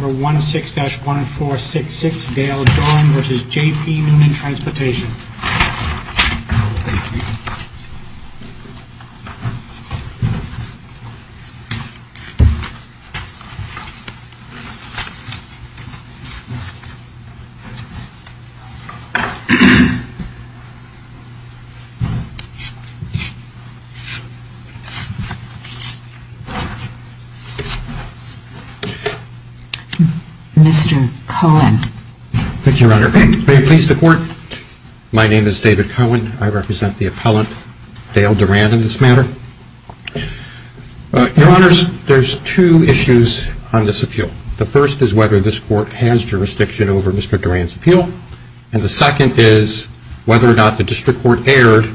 16-1466 Dale Doran v. J. P. Noonan Transp. Mr. Cohen. Thank you, Your Honor. May it please the Court, my name is David Cohen. I represent the appellant, Dale Doran, in this matter. Your Honors, there's two issues on this appeal. The first is whether this Court has jurisdiction over Mr. Doran's appeal, and the second is whether or not the District Court erred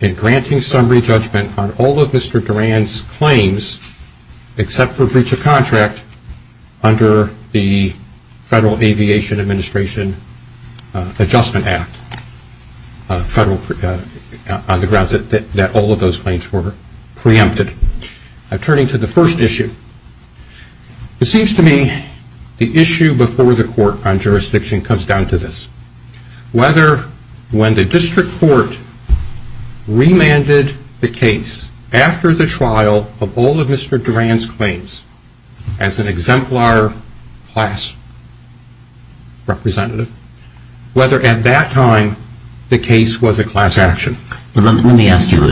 in granting summary judgment on all of Mr. Doran's claims except for breach of contract under the Federal Aviation Administration Adjustment Act, on the grounds that all of those claims were preempted. Turning to the first issue, it seems to me the issue before the Court on jurisdiction comes down to this. Whether when the District Court remanded the case after the trial of all of Mr. Doran's claims, as an exemplar class representative, whether at that time the case was a class action. Let me ask you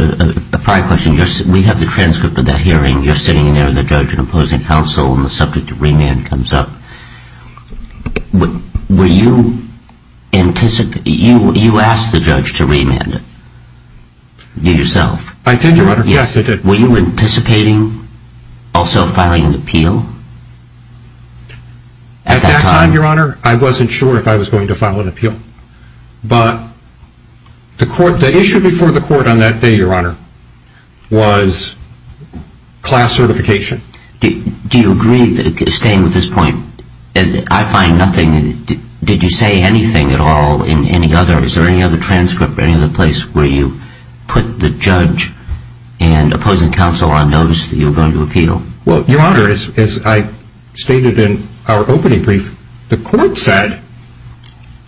a prior question. We have the transcript of that hearing. You're sitting there, the judge and opposing counsel, and the subject of remand comes up. You asked the judge to remand it, yourself. I did, Your Honor. Yes, I did. Were you anticipating also filing an appeal at that time? At that time, Your Honor, I wasn't sure if I was going to file an appeal. But the issue before the Court on that day, Your Honor, was class certification. Do you agree, staying with this point, I find nothing, did you say anything at all in any other, is there any other transcript, any other place where you put the judge and opposing counsel on notice that you were going to appeal? Well, Your Honor, as I stated in our opening brief, the Court said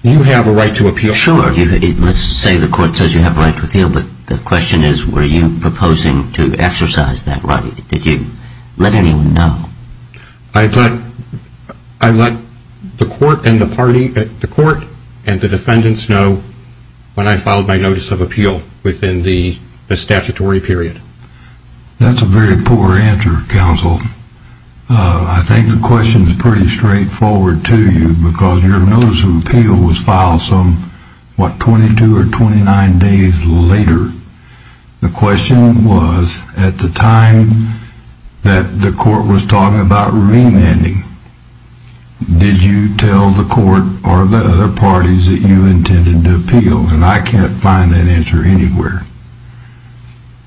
you have a right to appeal. Sure, let's say the Court says you have a right to appeal, but the question is were you proposing to exercise that right? Did you let anyone know? I let the Court and the party, the Court and the defendants know when I filed my notice of appeal within the statutory period. That's a very poor answer, counsel. I think the question is pretty straightforward to you because your notice of appeal was filed some, what, 22 or 29 days later. The question was at the time that the Court was talking about remanding, did you tell the Court or the other parties that you intended to appeal? And I can't find that answer anywhere.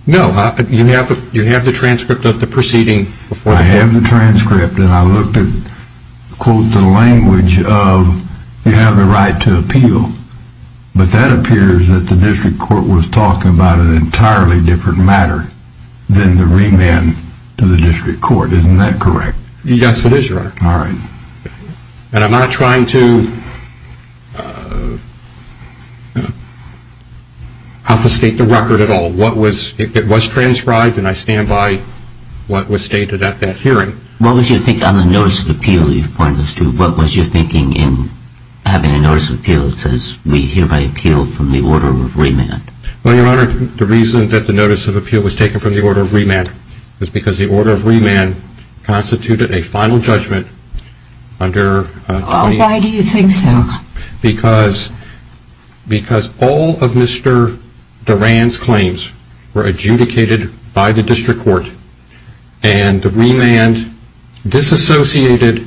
No, you have the transcript of the proceeding. I have the transcript and I looked at, quote, the language of you have the right to appeal. But that appears that the District Court was talking about an entirely different matter than the remand to the District Court. Isn't that correct? Yes, it is, Your Honor. All right. And I'm not trying to off state the record at all. What was, it was transcribed and I stand by what was stated at that hearing. What was your thinking on the notice of appeal you pointed to? What was your thinking in having a notice of appeal that says we hereby appeal from the order of remand? Well, Your Honor, the reason that the notice of appeal was taken from the order of remand was because the order of remand constituted a final judgment under Why do you think so? Because all of Mr. Durand's claims were adjudicated by the District Court and the remand disassociated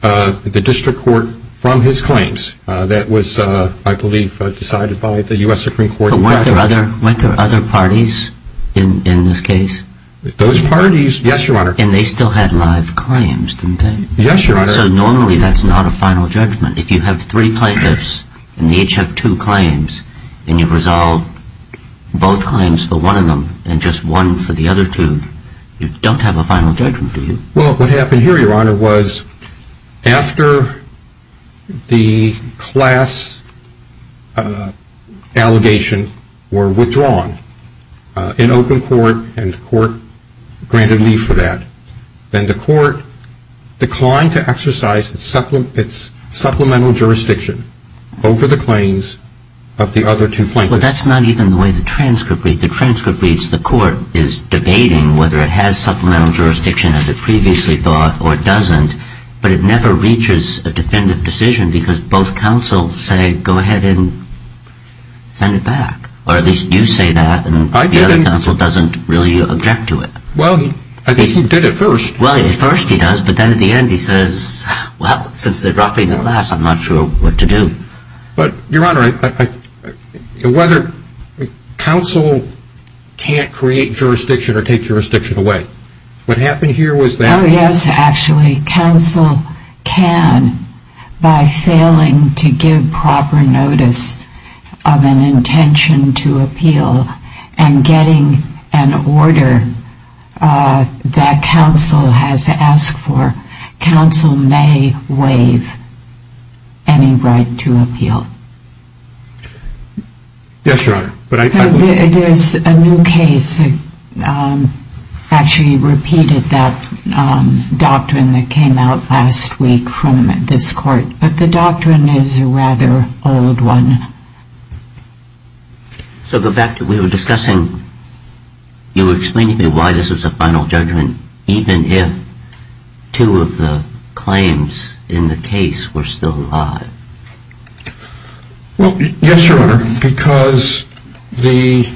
the District Court from his claims. That was, I believe, decided by the U.S. Supreme Court. But weren't there other parties in this case? Those parties, yes, Your Honor. And they still had live claims, didn't they? Yes, Your Honor. So normally that's not a final judgment. If you have three plaintiffs and they each have two claims and you've resolved both claims for one of them and just one for the other two, you don't have a final judgment, do you? Well, what happened here, Your Honor, was after the class allegations were withdrawn in open court and the court granted leave for that, then the court declined to exercise its supplemental jurisdiction over the claims of the other two plaintiffs. Well, that's not even the way the transcript reads. The transcript reads the court is debating whether it has supplemental jurisdiction as it previously thought or doesn't, but it never reaches a definitive decision because both counsels say, go ahead and send it back. Or at least you say that and the other counsel doesn't really object to it. Well, I guess he did at first. Well, at first he does, but then at the end he says, well, since they dropped me in the class, I'm not sure what to do. But, Your Honor, whether counsel can't create jurisdiction or take jurisdiction away, what happened here was that... Oh, yes, actually. counsel can, by failing to give proper notice of an intention to appeal and getting an order that counsel has asked for, counsel may waive any right to appeal. Yes, Your Honor. There's a new case that actually repeated that doctrine that came out last week from this court. But the doctrine is a rather old one. So go back to, we were discussing, you were explaining to me why this was a final judgment, even if two of the claims in the case were still alive. Well, yes, Your Honor, because the...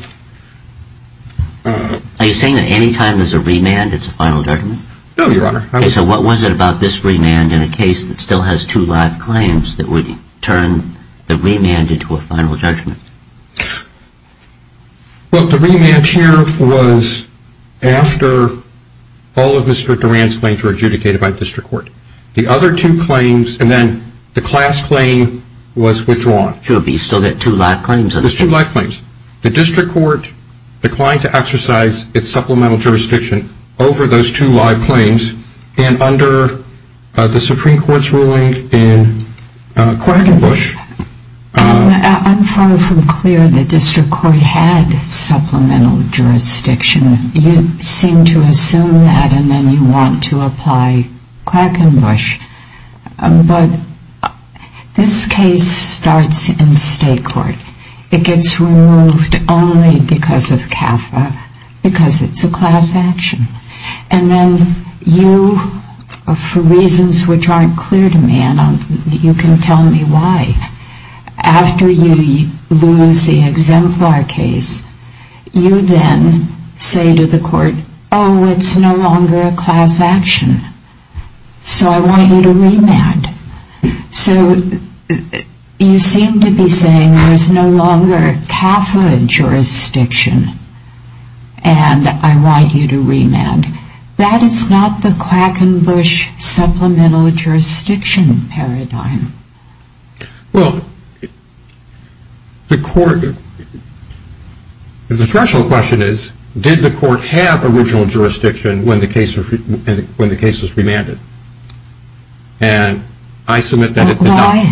Are you saying that any time there's a remand it's a final judgment? No, Your Honor. Okay, so what was it about this remand in a case that still has two live claims that would turn the remand into a final judgment? Well, the remand here was after all of Mr. Duran's claims were adjudicated by district court. The other two claims and then the class claim was withdrawn. Sure, but you still get two live claims? There's two live claims. The district court declined to exercise its supplemental jurisdiction over those two live claims, and under the Supreme Court's ruling in Quackenbush... I'm far from clear the district court had supplemental jurisdiction. You seem to assume that and then you want to apply Quackenbush. But this case starts in state court. It gets removed only because of CAFA, because it's a class action. And then you, for reasons which aren't clear to me, and you can tell me why, after you lose the exemplar case, you then say to the court, oh, it's no longer a class action, so I want you to remand. So you seem to be saying there's no longer CAFA jurisdiction and I want you to remand. That is not the Quackenbush supplemental jurisdiction paradigm. Well, the court, the threshold question is, did the court have original jurisdiction when the case was remanded? And I submit that it did not.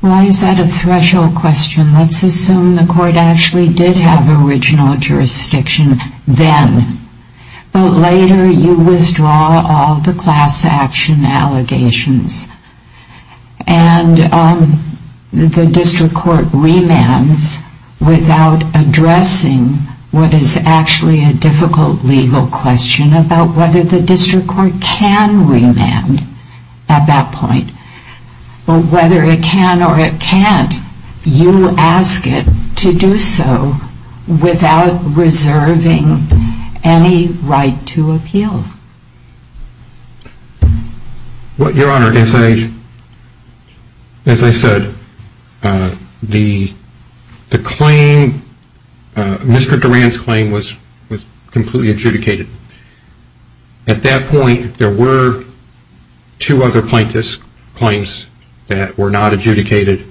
Why is that a threshold question? Let's assume the court actually did have original jurisdiction then. But later you withdraw all the class action allegations. And the district court remands without addressing what is actually a difficult legal question about whether the district court can remand at that point. But whether it can or it can't, you ask it to do so without reserving any right to appeal. Your Honor, as I said, the claim, Mr. Durand's claim was completely adjudicated. At that point, there were two other plaintiffs' claims that were not adjudicated.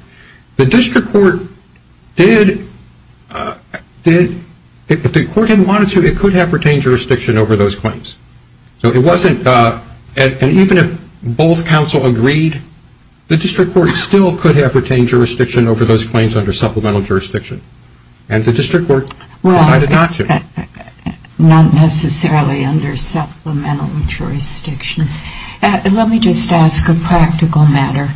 The district court did, if the court didn't want it to, it could have retained jurisdiction over those claims. So it wasn't, and even if both counsel agreed, the district court still could have retained jurisdiction over those claims under supplemental jurisdiction. And the district court decided not to. Not necessarily under supplemental jurisdiction. Let me just ask a practical matter.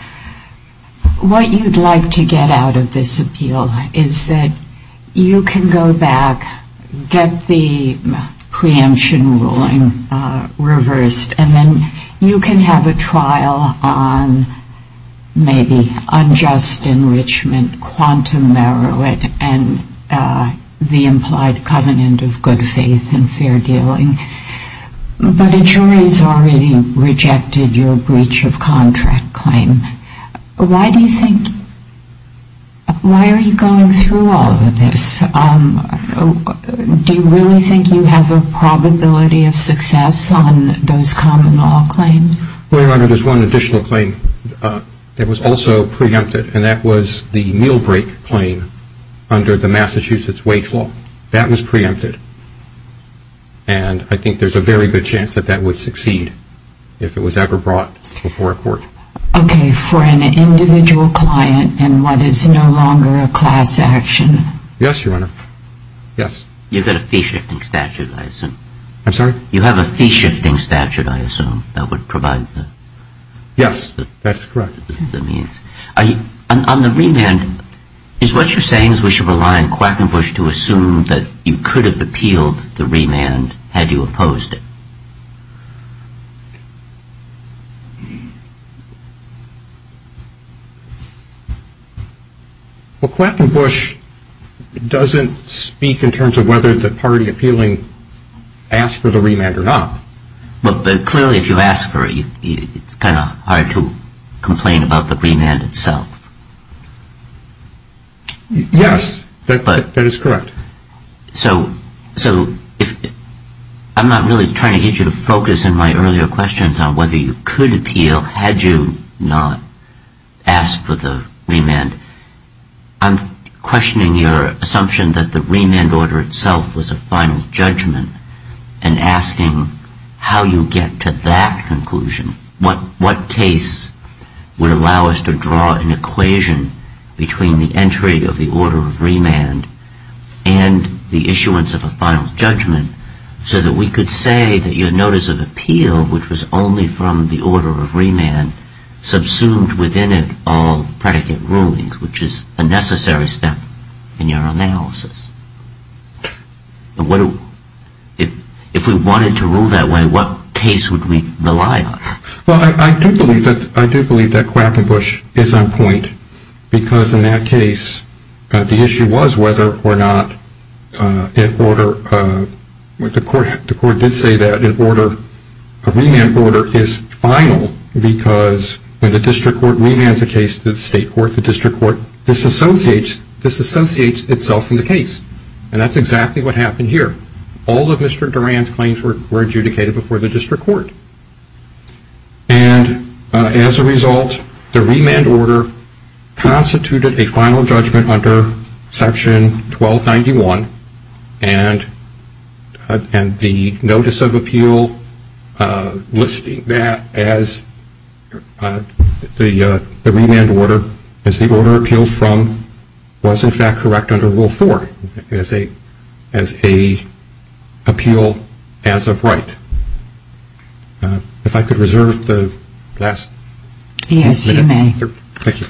What you'd like to get out of this appeal is that you can go back, get the preemption ruling reversed, and then you can have a trial on maybe unjust enrichment, quantum merit, and the implied covenant of good faith and fair dealing. But a jury's already rejected your breach of contract claim. Why do you think, why are you going through all of this? Do you really think you have a probability of success on those common law claims? Well, Your Honor, there's one additional claim that was also preempted, and that was the meal break claim under the Massachusetts wage law. That was preempted. And I think there's a very good chance that that would succeed if it was ever brought before a court. Okay. For an individual client and what is no longer a class action? Yes, Your Honor. Yes. You've got a fee-shifting statute, I assume. I'm sorry? You have a fee-shifting statute, I assume, that would provide the means. Yes, that's correct. On the remand, is what you're saying is we should rely on Quackenbush to assume that you could have appealed the remand had you opposed it? Well, Quackenbush doesn't speak in terms of whether the party appealing asked for the remand or not. But clearly if you ask for it, it's kind of hard to complain about the remand itself. Yes, that is correct. So I'm not really trying to get you to focus in my earlier questions on whether you could appeal had you not asked for the remand. I'm questioning your assumption that the remand order itself was a final judgment and asking how you get to that conclusion, what case would allow us to draw an equation between the entry of the order of remand and the issuance of a final judgment so that we could say that your notice of appeal, which was only from the order of remand, subsumed within it all predicate rulings, which is a necessary step in your analysis. If we wanted to rule that way, what case would we rely on? Well, I do believe that Quackenbush is on point because in that case, the issue was whether or not the court did say that a remand order is final because when the district court remands a case to the state court, the district court disassociates itself from the case. And that's exactly what happened here. All of Mr. Duran's claims were adjudicated before the district court. And as a result, the remand order constituted a final judgment under Section 1291 and the notice of appeal listing that as the remand order, as the order appealed from, was in fact correct under Rule 4 as a appeal as of right. If I could reserve the last minute. Yes, you may. Thank you.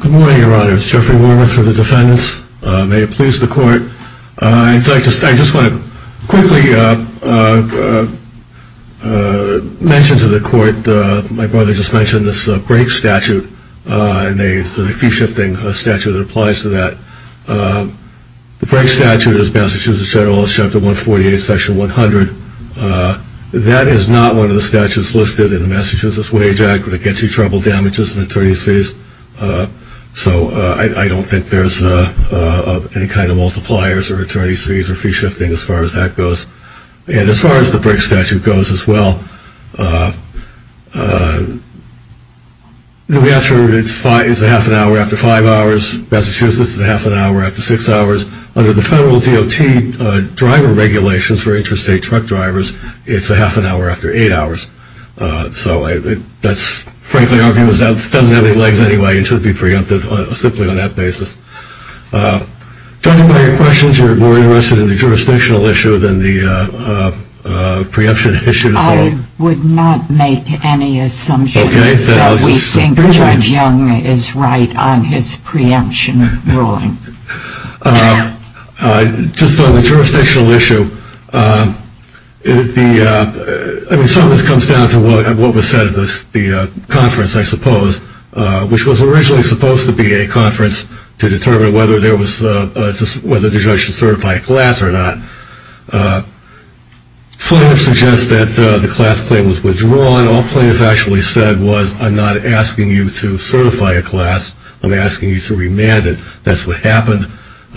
Good morning, Your Honor. It's Jeffrey Wormuth for the defendants. May it please the court. I just want to quickly mention to the court my brother just mentioned this break statute and a fee-shifting statute that applies to that. The break statute is Massachusetts Federalist Chapter 148, Section 100. That is not one of the statutes listed in the Massachusetts Wage Act that gets you trouble, damages, and attorney's fees. So I don't think there's any kind of multipliers or attorney's fees or fee-shifting as far as that goes. And as far as the break statute goes as well, it's a half an hour after five hours. Massachusetts is a half an hour after six hours. Under the federal DOT driver regulations for interstate truck drivers, it's a half an hour after eight hours. So that's frankly our view. It doesn't have any legs anyway and should be preempted simply on that basis. Judge, are there any questions? You're more interested in the jurisdictional issue than the preemption issue. I would not make any assumptions that we think Judge Young is right on his preemption ruling. Just on the jurisdictional issue, some of this comes down to what was said at the conference, I suppose, which was originally supposed to be a conference to determine whether the judge should certify a class or not. Plaintiffs suggest that the class claim was withdrawn. All plaintiffs actually said was, I'm not asking you to certify a class. I'm asking you to remand it. That's what happened.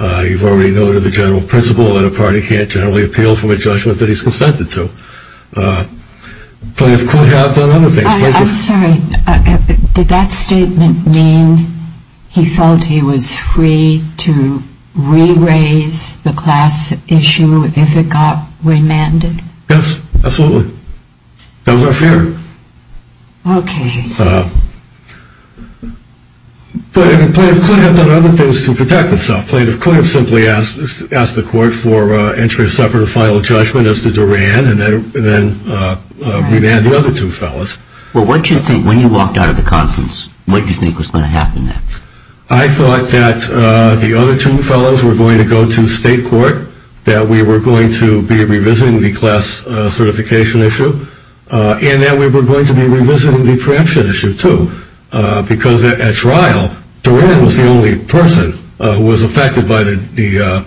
You've already noted the general principle that a party can't generally appeal from a judgment that he's consented to. Plaintiffs could have done other things. I'm sorry. Did that statement mean he felt he was free to re-raise the class issue if it got remanded? Yes, absolutely. That was our fear. Okay. But plaintiffs could have done other things to protect themselves. Plaintiffs could have simply asked the court for entry of separate or final judgment as to Durand and then remand the other two fellows. Well, what did you think when you walked out of the conference? What did you think was going to happen next? I thought that the other two fellows were going to go to state court, that we were going to be revisiting the class certification issue, and that we were going to be revisiting the preemption issue, too. Because at trial, Durand was the only person who was affected by the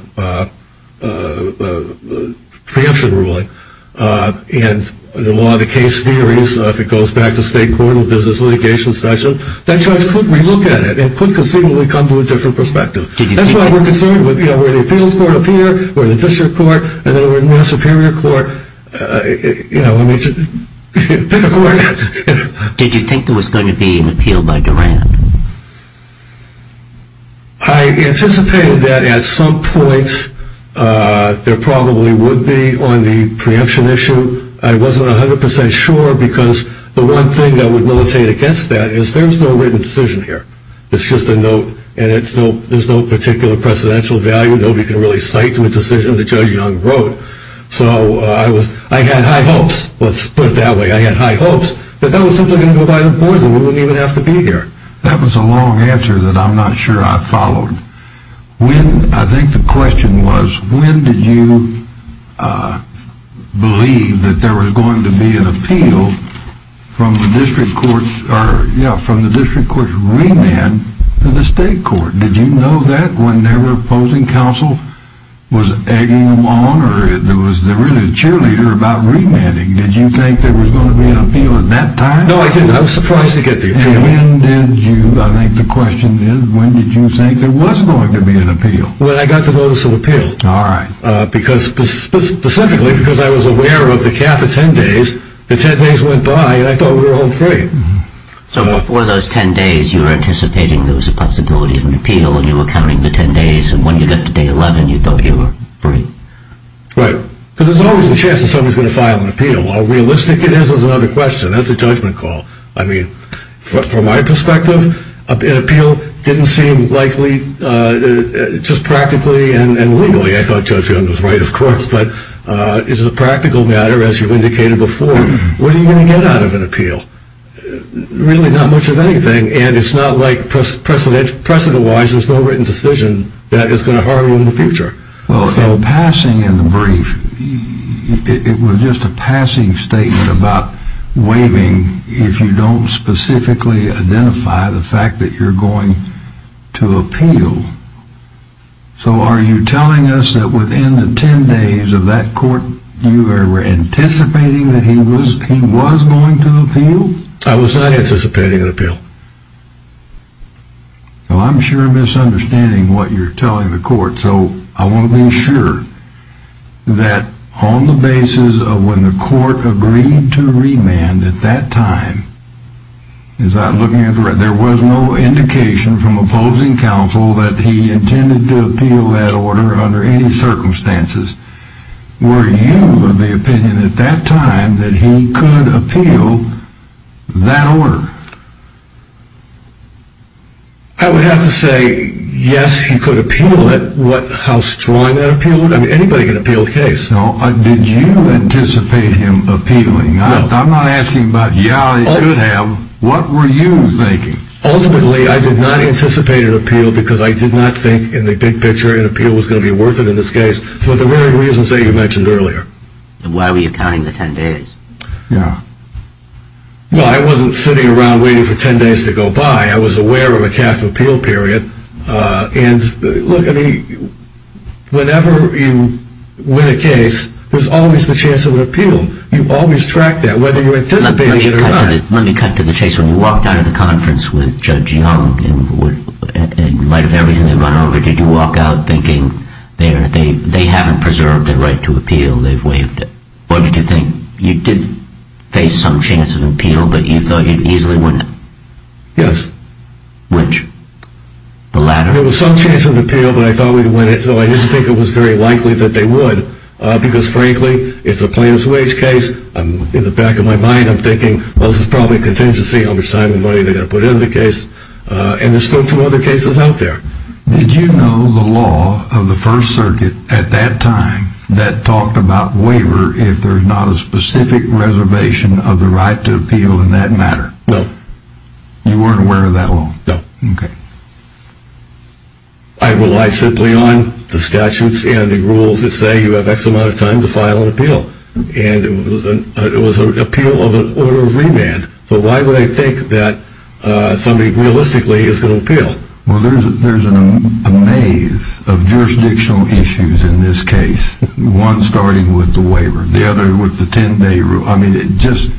preemption ruling. And the law of the case theories, if it goes back to state court in a business litigation session, that judge could relook at it and could conceivably come to a different perspective. That's why we're concerned with where the appeals court appeared, where the district court, and there were no superior court. You know, I mean, pick a court. Did you think there was going to be an appeal by Durand? I anticipated that at some point there probably would be on the preemption issue. I wasn't 100% sure because the one thing that would militate against that is there's no written decision here. It's just a note, and there's no particular precedential value. Nobody can really cite to a decision that Judge Young wrote. So I had high hopes. Let's put it that way. I had high hopes that that was simply going to go by the boards, and we wouldn't even have to be here. That was a long answer that I'm not sure I followed. I think the question was, when did you believe that there was going to be an appeal from the district court's remand to the state court? Did you know that when their opposing counsel was egging them on or was there really a cheerleader about remanding? Did you think there was going to be an appeal at that time? No, I didn't. I was surprised to get the appeal. And when did you, I think the question is, when did you think there was going to be an appeal? When I got the notice of appeal. All right. Specifically because I was aware of the cap of 10 days. The 10 days went by, and I thought we were home free. So before those 10 days, you were anticipating there was a possibility of an appeal, and you were counting the 10 days. And when you got to day 11, you thought you were free. Right. Because there's always a chance that somebody's going to file an appeal. While realistic, it is another question. That's a judgment call. I mean, from my perspective, an appeal didn't seem likely just practically and legally. I thought Judge Young was right, of course. But it's a practical matter, as you indicated before. What are you going to get out of an appeal? Really not much of anything. And it's not like precedent-wise, there's no written decision that is going to harm you in the future. So passing in the brief, it was just a passing statement about waiving if you don't specifically identify the fact that you're going to appeal. So are you telling us that within the 10 days of that court, you were anticipating that he was going to appeal? I was not anticipating an appeal. Well, I'm sure misunderstanding what you're telling the court. So I want to be sure that on the basis of when the court agreed to remand at that time, there was no indication from opposing counsel that he intended to appeal that order under any circumstances. Were you of the opinion at that time that he could appeal that order? I would have to say, yes, he could appeal it. How strong that appeal would have been. Anybody can appeal the case. Did you anticipate him appealing? I'm not asking about how he could have. What were you thinking? Ultimately, I did not anticipate an appeal because I did not think in the big picture an appeal was going to be worth it in this case, for the very reasons that you mentioned earlier. Why were you counting the 10 days? Well, I wasn't sitting around waiting for 10 days to go by. I was aware of a cap appeal period. And look, I mean, whenever you win a case, there's always the chance of an appeal. You always track that, whether you're anticipating it or not. Let me cut to the chase. When you walked out of the conference with Judge Young, in light of everything they'd run over, did you walk out thinking they haven't preserved their right to appeal? They've waived it. What did you think? You did face some chance of appeal, but you thought you'd easily win it. Yes. Which? The latter? There was some chance of an appeal, but I thought we'd win it, so I didn't think it was very likely that they would because, frankly, it's a plaintiff's wage case. In the back of my mind, I'm thinking, well, this is probably contingency on how much time and money they're going to put into the case. And there's still two other cases out there. Did you know the law of the First Circuit at that time that talked about waiver if there's not a specific reservation of the right to appeal in that matter? No. You weren't aware of that law? No. Okay. I relied simply on the statutes and the rules that say you have X amount of time to file an appeal. And it was an appeal of an order of remand, so why would I think that somebody realistically is going to appeal? Well, there's a maze of jurisdictional issues in this case, one starting with the waiver, the other with the 10-day rule. I mean, it's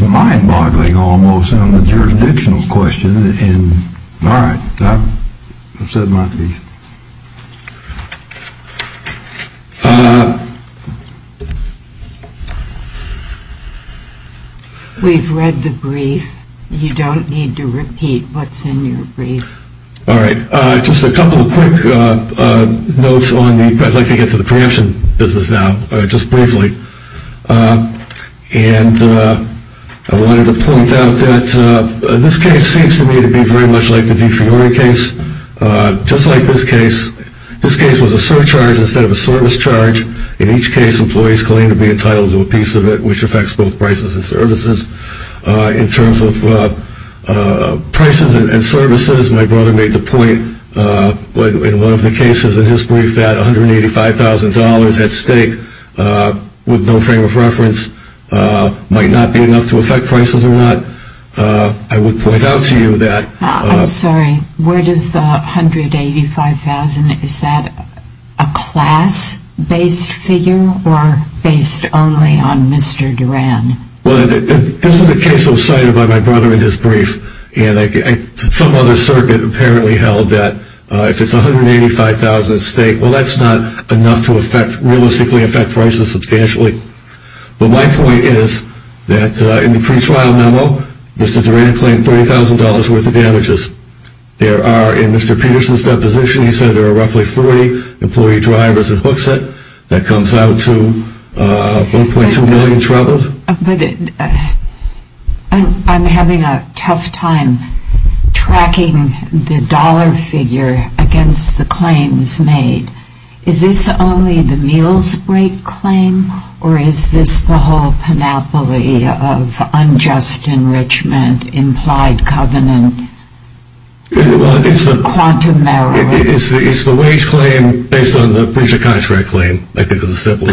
mind-boggling almost on the jurisdictional question. All right. I've said my piece. We've read the brief. You don't need to repeat what's in your brief. All right. Just a couple of quick notes. I'd like to get to the preemption business now, just briefly. And I wanted to point out that this case seems to me to be very much like the DeFiori case, just like this case. This case was a surcharge instead of a service charge. In each case, employees claim to be entitled to a piece of it, which affects both prices and services. In terms of prices and services, my brother made the point in one of the cases in his brief that $185,000 at stake with no frame of reference might not be enough to affect prices or not. I would point out to you that. I'm sorry. Where does the $185,000, is that a class-based figure or based only on Mr. Duran? Well, this is a case that was cited by my brother in his brief. And some other circuit apparently held that if it's $185,000 at stake, well, that's not enough to realistically affect prices substantially. But my point is that in the pretrial memo, Mr. Duran claimed $30,000 worth of damages. There are, in Mr. Peterson's deposition, he said there are roughly 40 employee drivers that comes out to $1.2 million in trouble. I'm having a tough time tracking the dollar figure against the claims made. Is this only the meals break claim or is this the whole panoply of unjust enrichment implied covenant? It's the wage claim based on the pretrial memo. But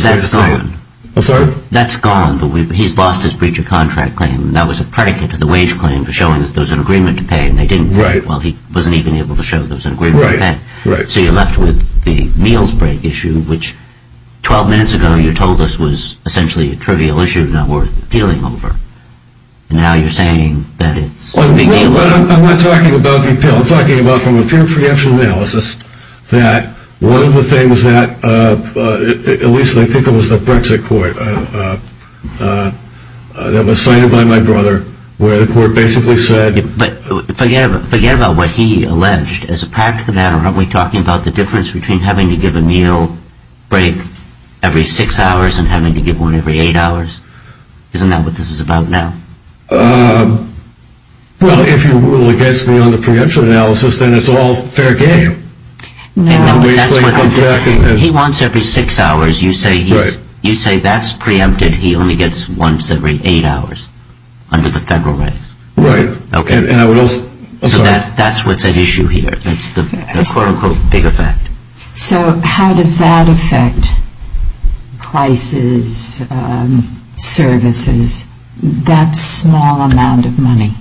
that's gone. I'm sorry? That's gone. He's lost his breach of contract claim. That was a predicate to the wage claim for showing that there was an agreement to pay and they didn't break it. Well, he wasn't even able to show there was an agreement to pay. Right. So you're left with the meals break issue, which 12 minutes ago you told us was essentially a trivial issue not worth appealing over. And now you're saying that it's a big deal. I'm not talking about the appeal. I'm talking about from a pure preemption analysis that one of the things that, at least I think it was the Brexit court that was cited by my brother where the court basically said. But forget about what he alleged. As a practical matter, aren't we talking about the difference between having to give a meal break every six hours and having to give one every eight hours? Isn't that what this is about now? Well, if you rule against me on the preemption analysis, then it's all fair game. No. He wants every six hours. You say that's preempted. He only gets once every eight hours under the federal rights. Right. So that's what's at issue here. So how does that affect prices, services? That small amount of money.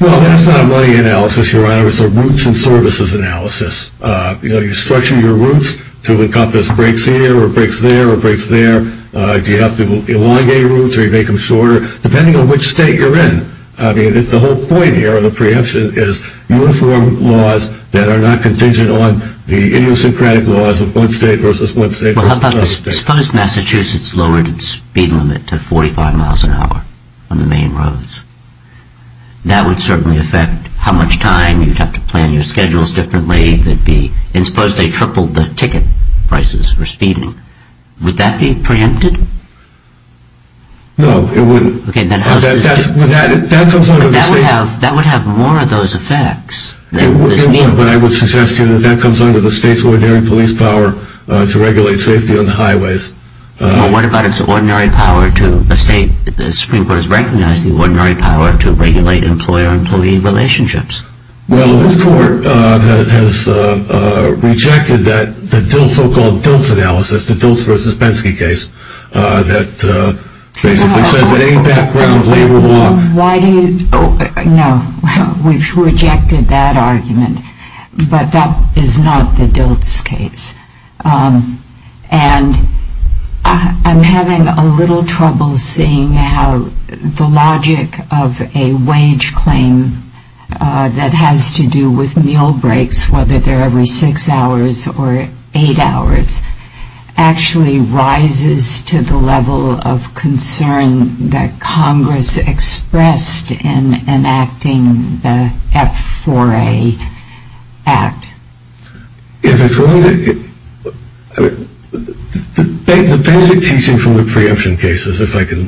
Well, that's not a money analysis, Your Honor. It's a routes and services analysis. You know, you structure your routes to encompass breaks here or breaks there or breaks there. Do you have to elongate routes or you make them shorter? Depending on which state you're in. I mean, the whole point here of the preemption is uniform laws that are not contingent on the idiosyncratic laws of one state versus one state versus one state. Suppose Massachusetts lowered its speed limit to 45 miles an hour on the main roads. That would certainly affect how much time you'd have to plan your schedules differently. And suppose they tripled the ticket prices for speeding. Would that be preempted? No, it wouldn't. That would have more of those effects than this meeting. But I would suggest to you that that comes under the state's ordinary police power to regulate safety on the highways. Well, what about its ordinary power to the state? The Supreme Court has recognized the ordinary power to regulate employer-employee relationships. Well, this court has rejected that so-called DILT analysis, the DILT versus Penske case, that basically says that any background labor law... No, we've rejected that argument. But that is not the DILT's case. And I'm having a little trouble seeing how the logic of a wage claim that has to do with meal breaks, whether they're every six hours or eight hours, actually rises to the level of concern that Congress expressed in enacting the F4A Act. If it's going to... The basic teaching from the preemption cases, if I can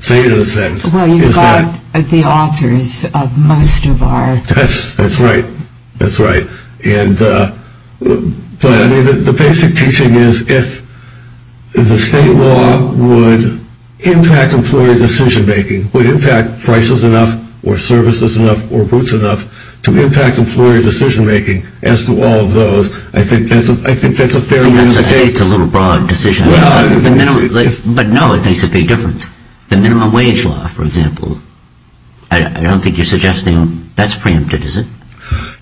say it in a sentence, is that... Well, you've got the authors of most of our... That's right. That's right. But the basic teaching is if the state law would impact employer decision-making, would impact prices enough or services enough or routes enough to impact employer decision-making, as to all of those, I think that's a fair... I think that's a little broad decision. But no, it makes a big difference. The minimum wage law, for example, I don't think you're suggesting... That's preempted, is it?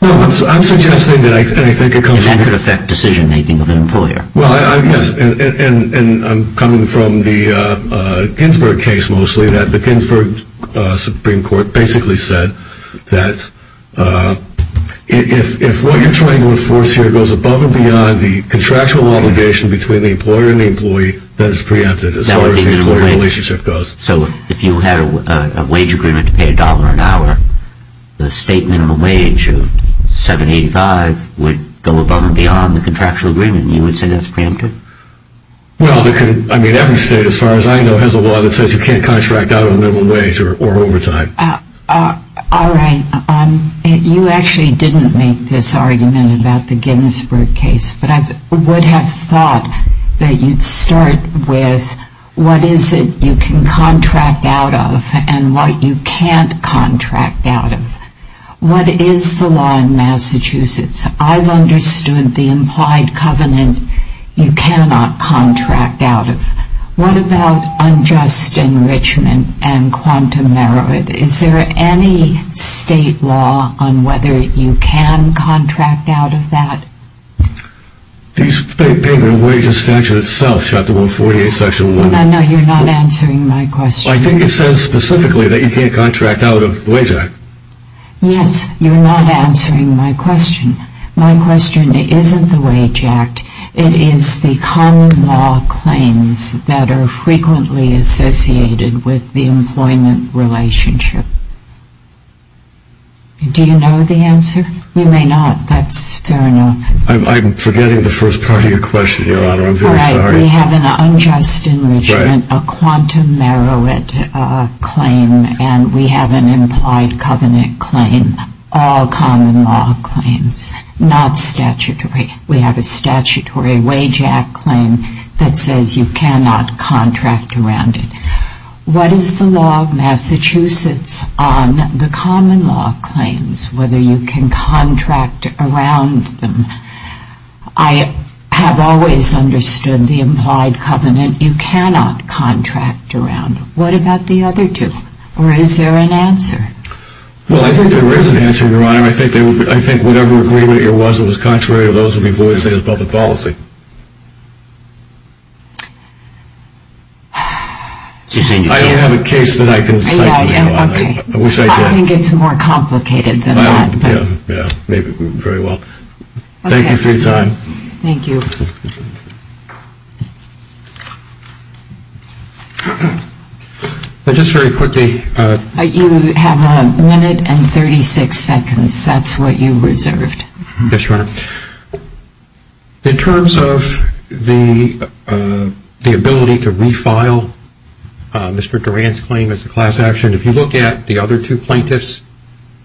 No, I'm suggesting that I think it comes... And that could affect decision-making of an employer. Well, yes, and I'm coming from the Ginsburg case, mostly, that the Ginsburg Supreme Court basically said that if what you're trying to enforce here goes above and beyond the contractual obligation between the employer and the employee, that it's preempted as far as the employer relationship goes. So if you had a wage agreement to pay $1 an hour, the state minimum wage of $7.85 would go above and beyond the contractual agreement. You would say that's preempted? Well, I mean, every state, as far as I know, has a law that says you can't contract out on minimum wage or overtime. All right. You actually didn't make this argument about the Ginsburg case, but I would have thought that you'd start with what is it you can contract out of and what you can't contract out of. What is the law in Massachusetts? I've understood the implied covenant you cannot contract out of. What about unjust enrichment and quantum merit? Is there any state law on whether you can contract out of that? The State Payment of Wages Statute itself, Chapter 148, Section 1. No, no, you're not answering my question. I think it says specifically that you can't contract out of the Wage Act. Yes, you're not answering my question. My question isn't the Wage Act. It is the common law claims that are frequently associated with the employment relationship. Do you know the answer? You may not. That's fair enough. I'm forgetting the first part of your question, Your Honor. I'm very sorry. All right. We have an unjust enrichment, a quantum merit claim, and we have an implied covenant claim, all common law claims, not statutory. We have a statutory Wage Act claim that says you cannot contract around it. What is the law of Massachusetts on the common law claims, whether you can contract around them? I have always understood the implied covenant you cannot contract around. What about the other two, or is there an answer? Well, I think there is an answer, Your Honor. I think whatever agreement there was that was contrary to those would be voided as public policy. I have a case that I can cite to you on. I think it's more complicated than that. Maybe very well. Thank you for your time. Thank you. Just very quickly. You have a minute and 36 seconds. That's what you reserved. Yes, Your Honor. In terms of the ability to refile Mr. Duran's claim as a class action, if you look at the other two plaintiffs,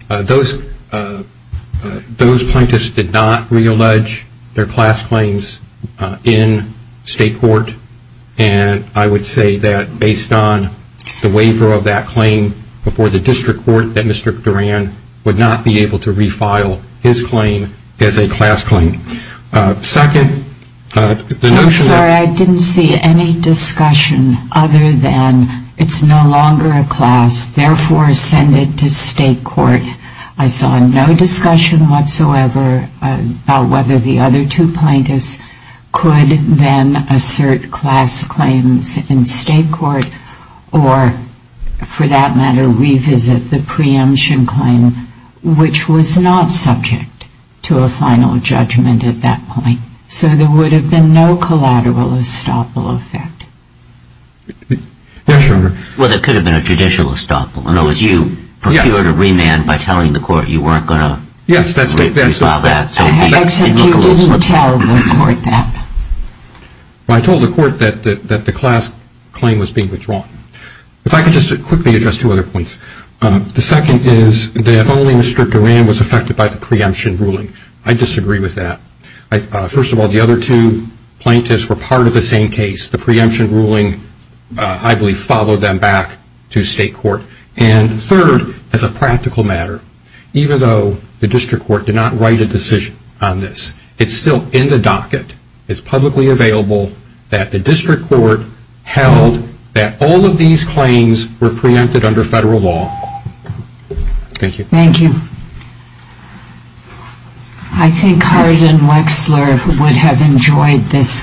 those plaintiffs did not reallege their class claims in state court, and I would say that based on the waiver of that claim before the district court, that Mr. Duran would not be able to refile his claim as a class claim. I'm sorry. I didn't see any discussion other than it's no longer a class, therefore send it to state court. I saw no discussion whatsoever about whether the other two plaintiffs could then assert class claims in state court or, for that matter, revisit the preemption claim, which was not subject to a final judgment at that point. So there would have been no collateral estoppel effect. Yes, Your Honor. Well, there could have been a judicial estoppel. In other words, you procured a remand by telling the court you weren't going to refile that. Except you didn't tell the court that. Well, I told the court that the class claim was being withdrawn. If I could just quickly address two other points. The second is that only Mr. Duran was affected by the preemption ruling. I disagree with that. First of all, the other two plaintiffs were part of the same case. The preemption ruling, I believe, followed them back to state court. And third, as a practical matter, even though the district court did not write a decision on this, it's still in the docket, it's publicly available, that the district court held that all of these claims were preempted under federal law. Thank you. Thank you. I think Harlan Wexler would have enjoyed this case.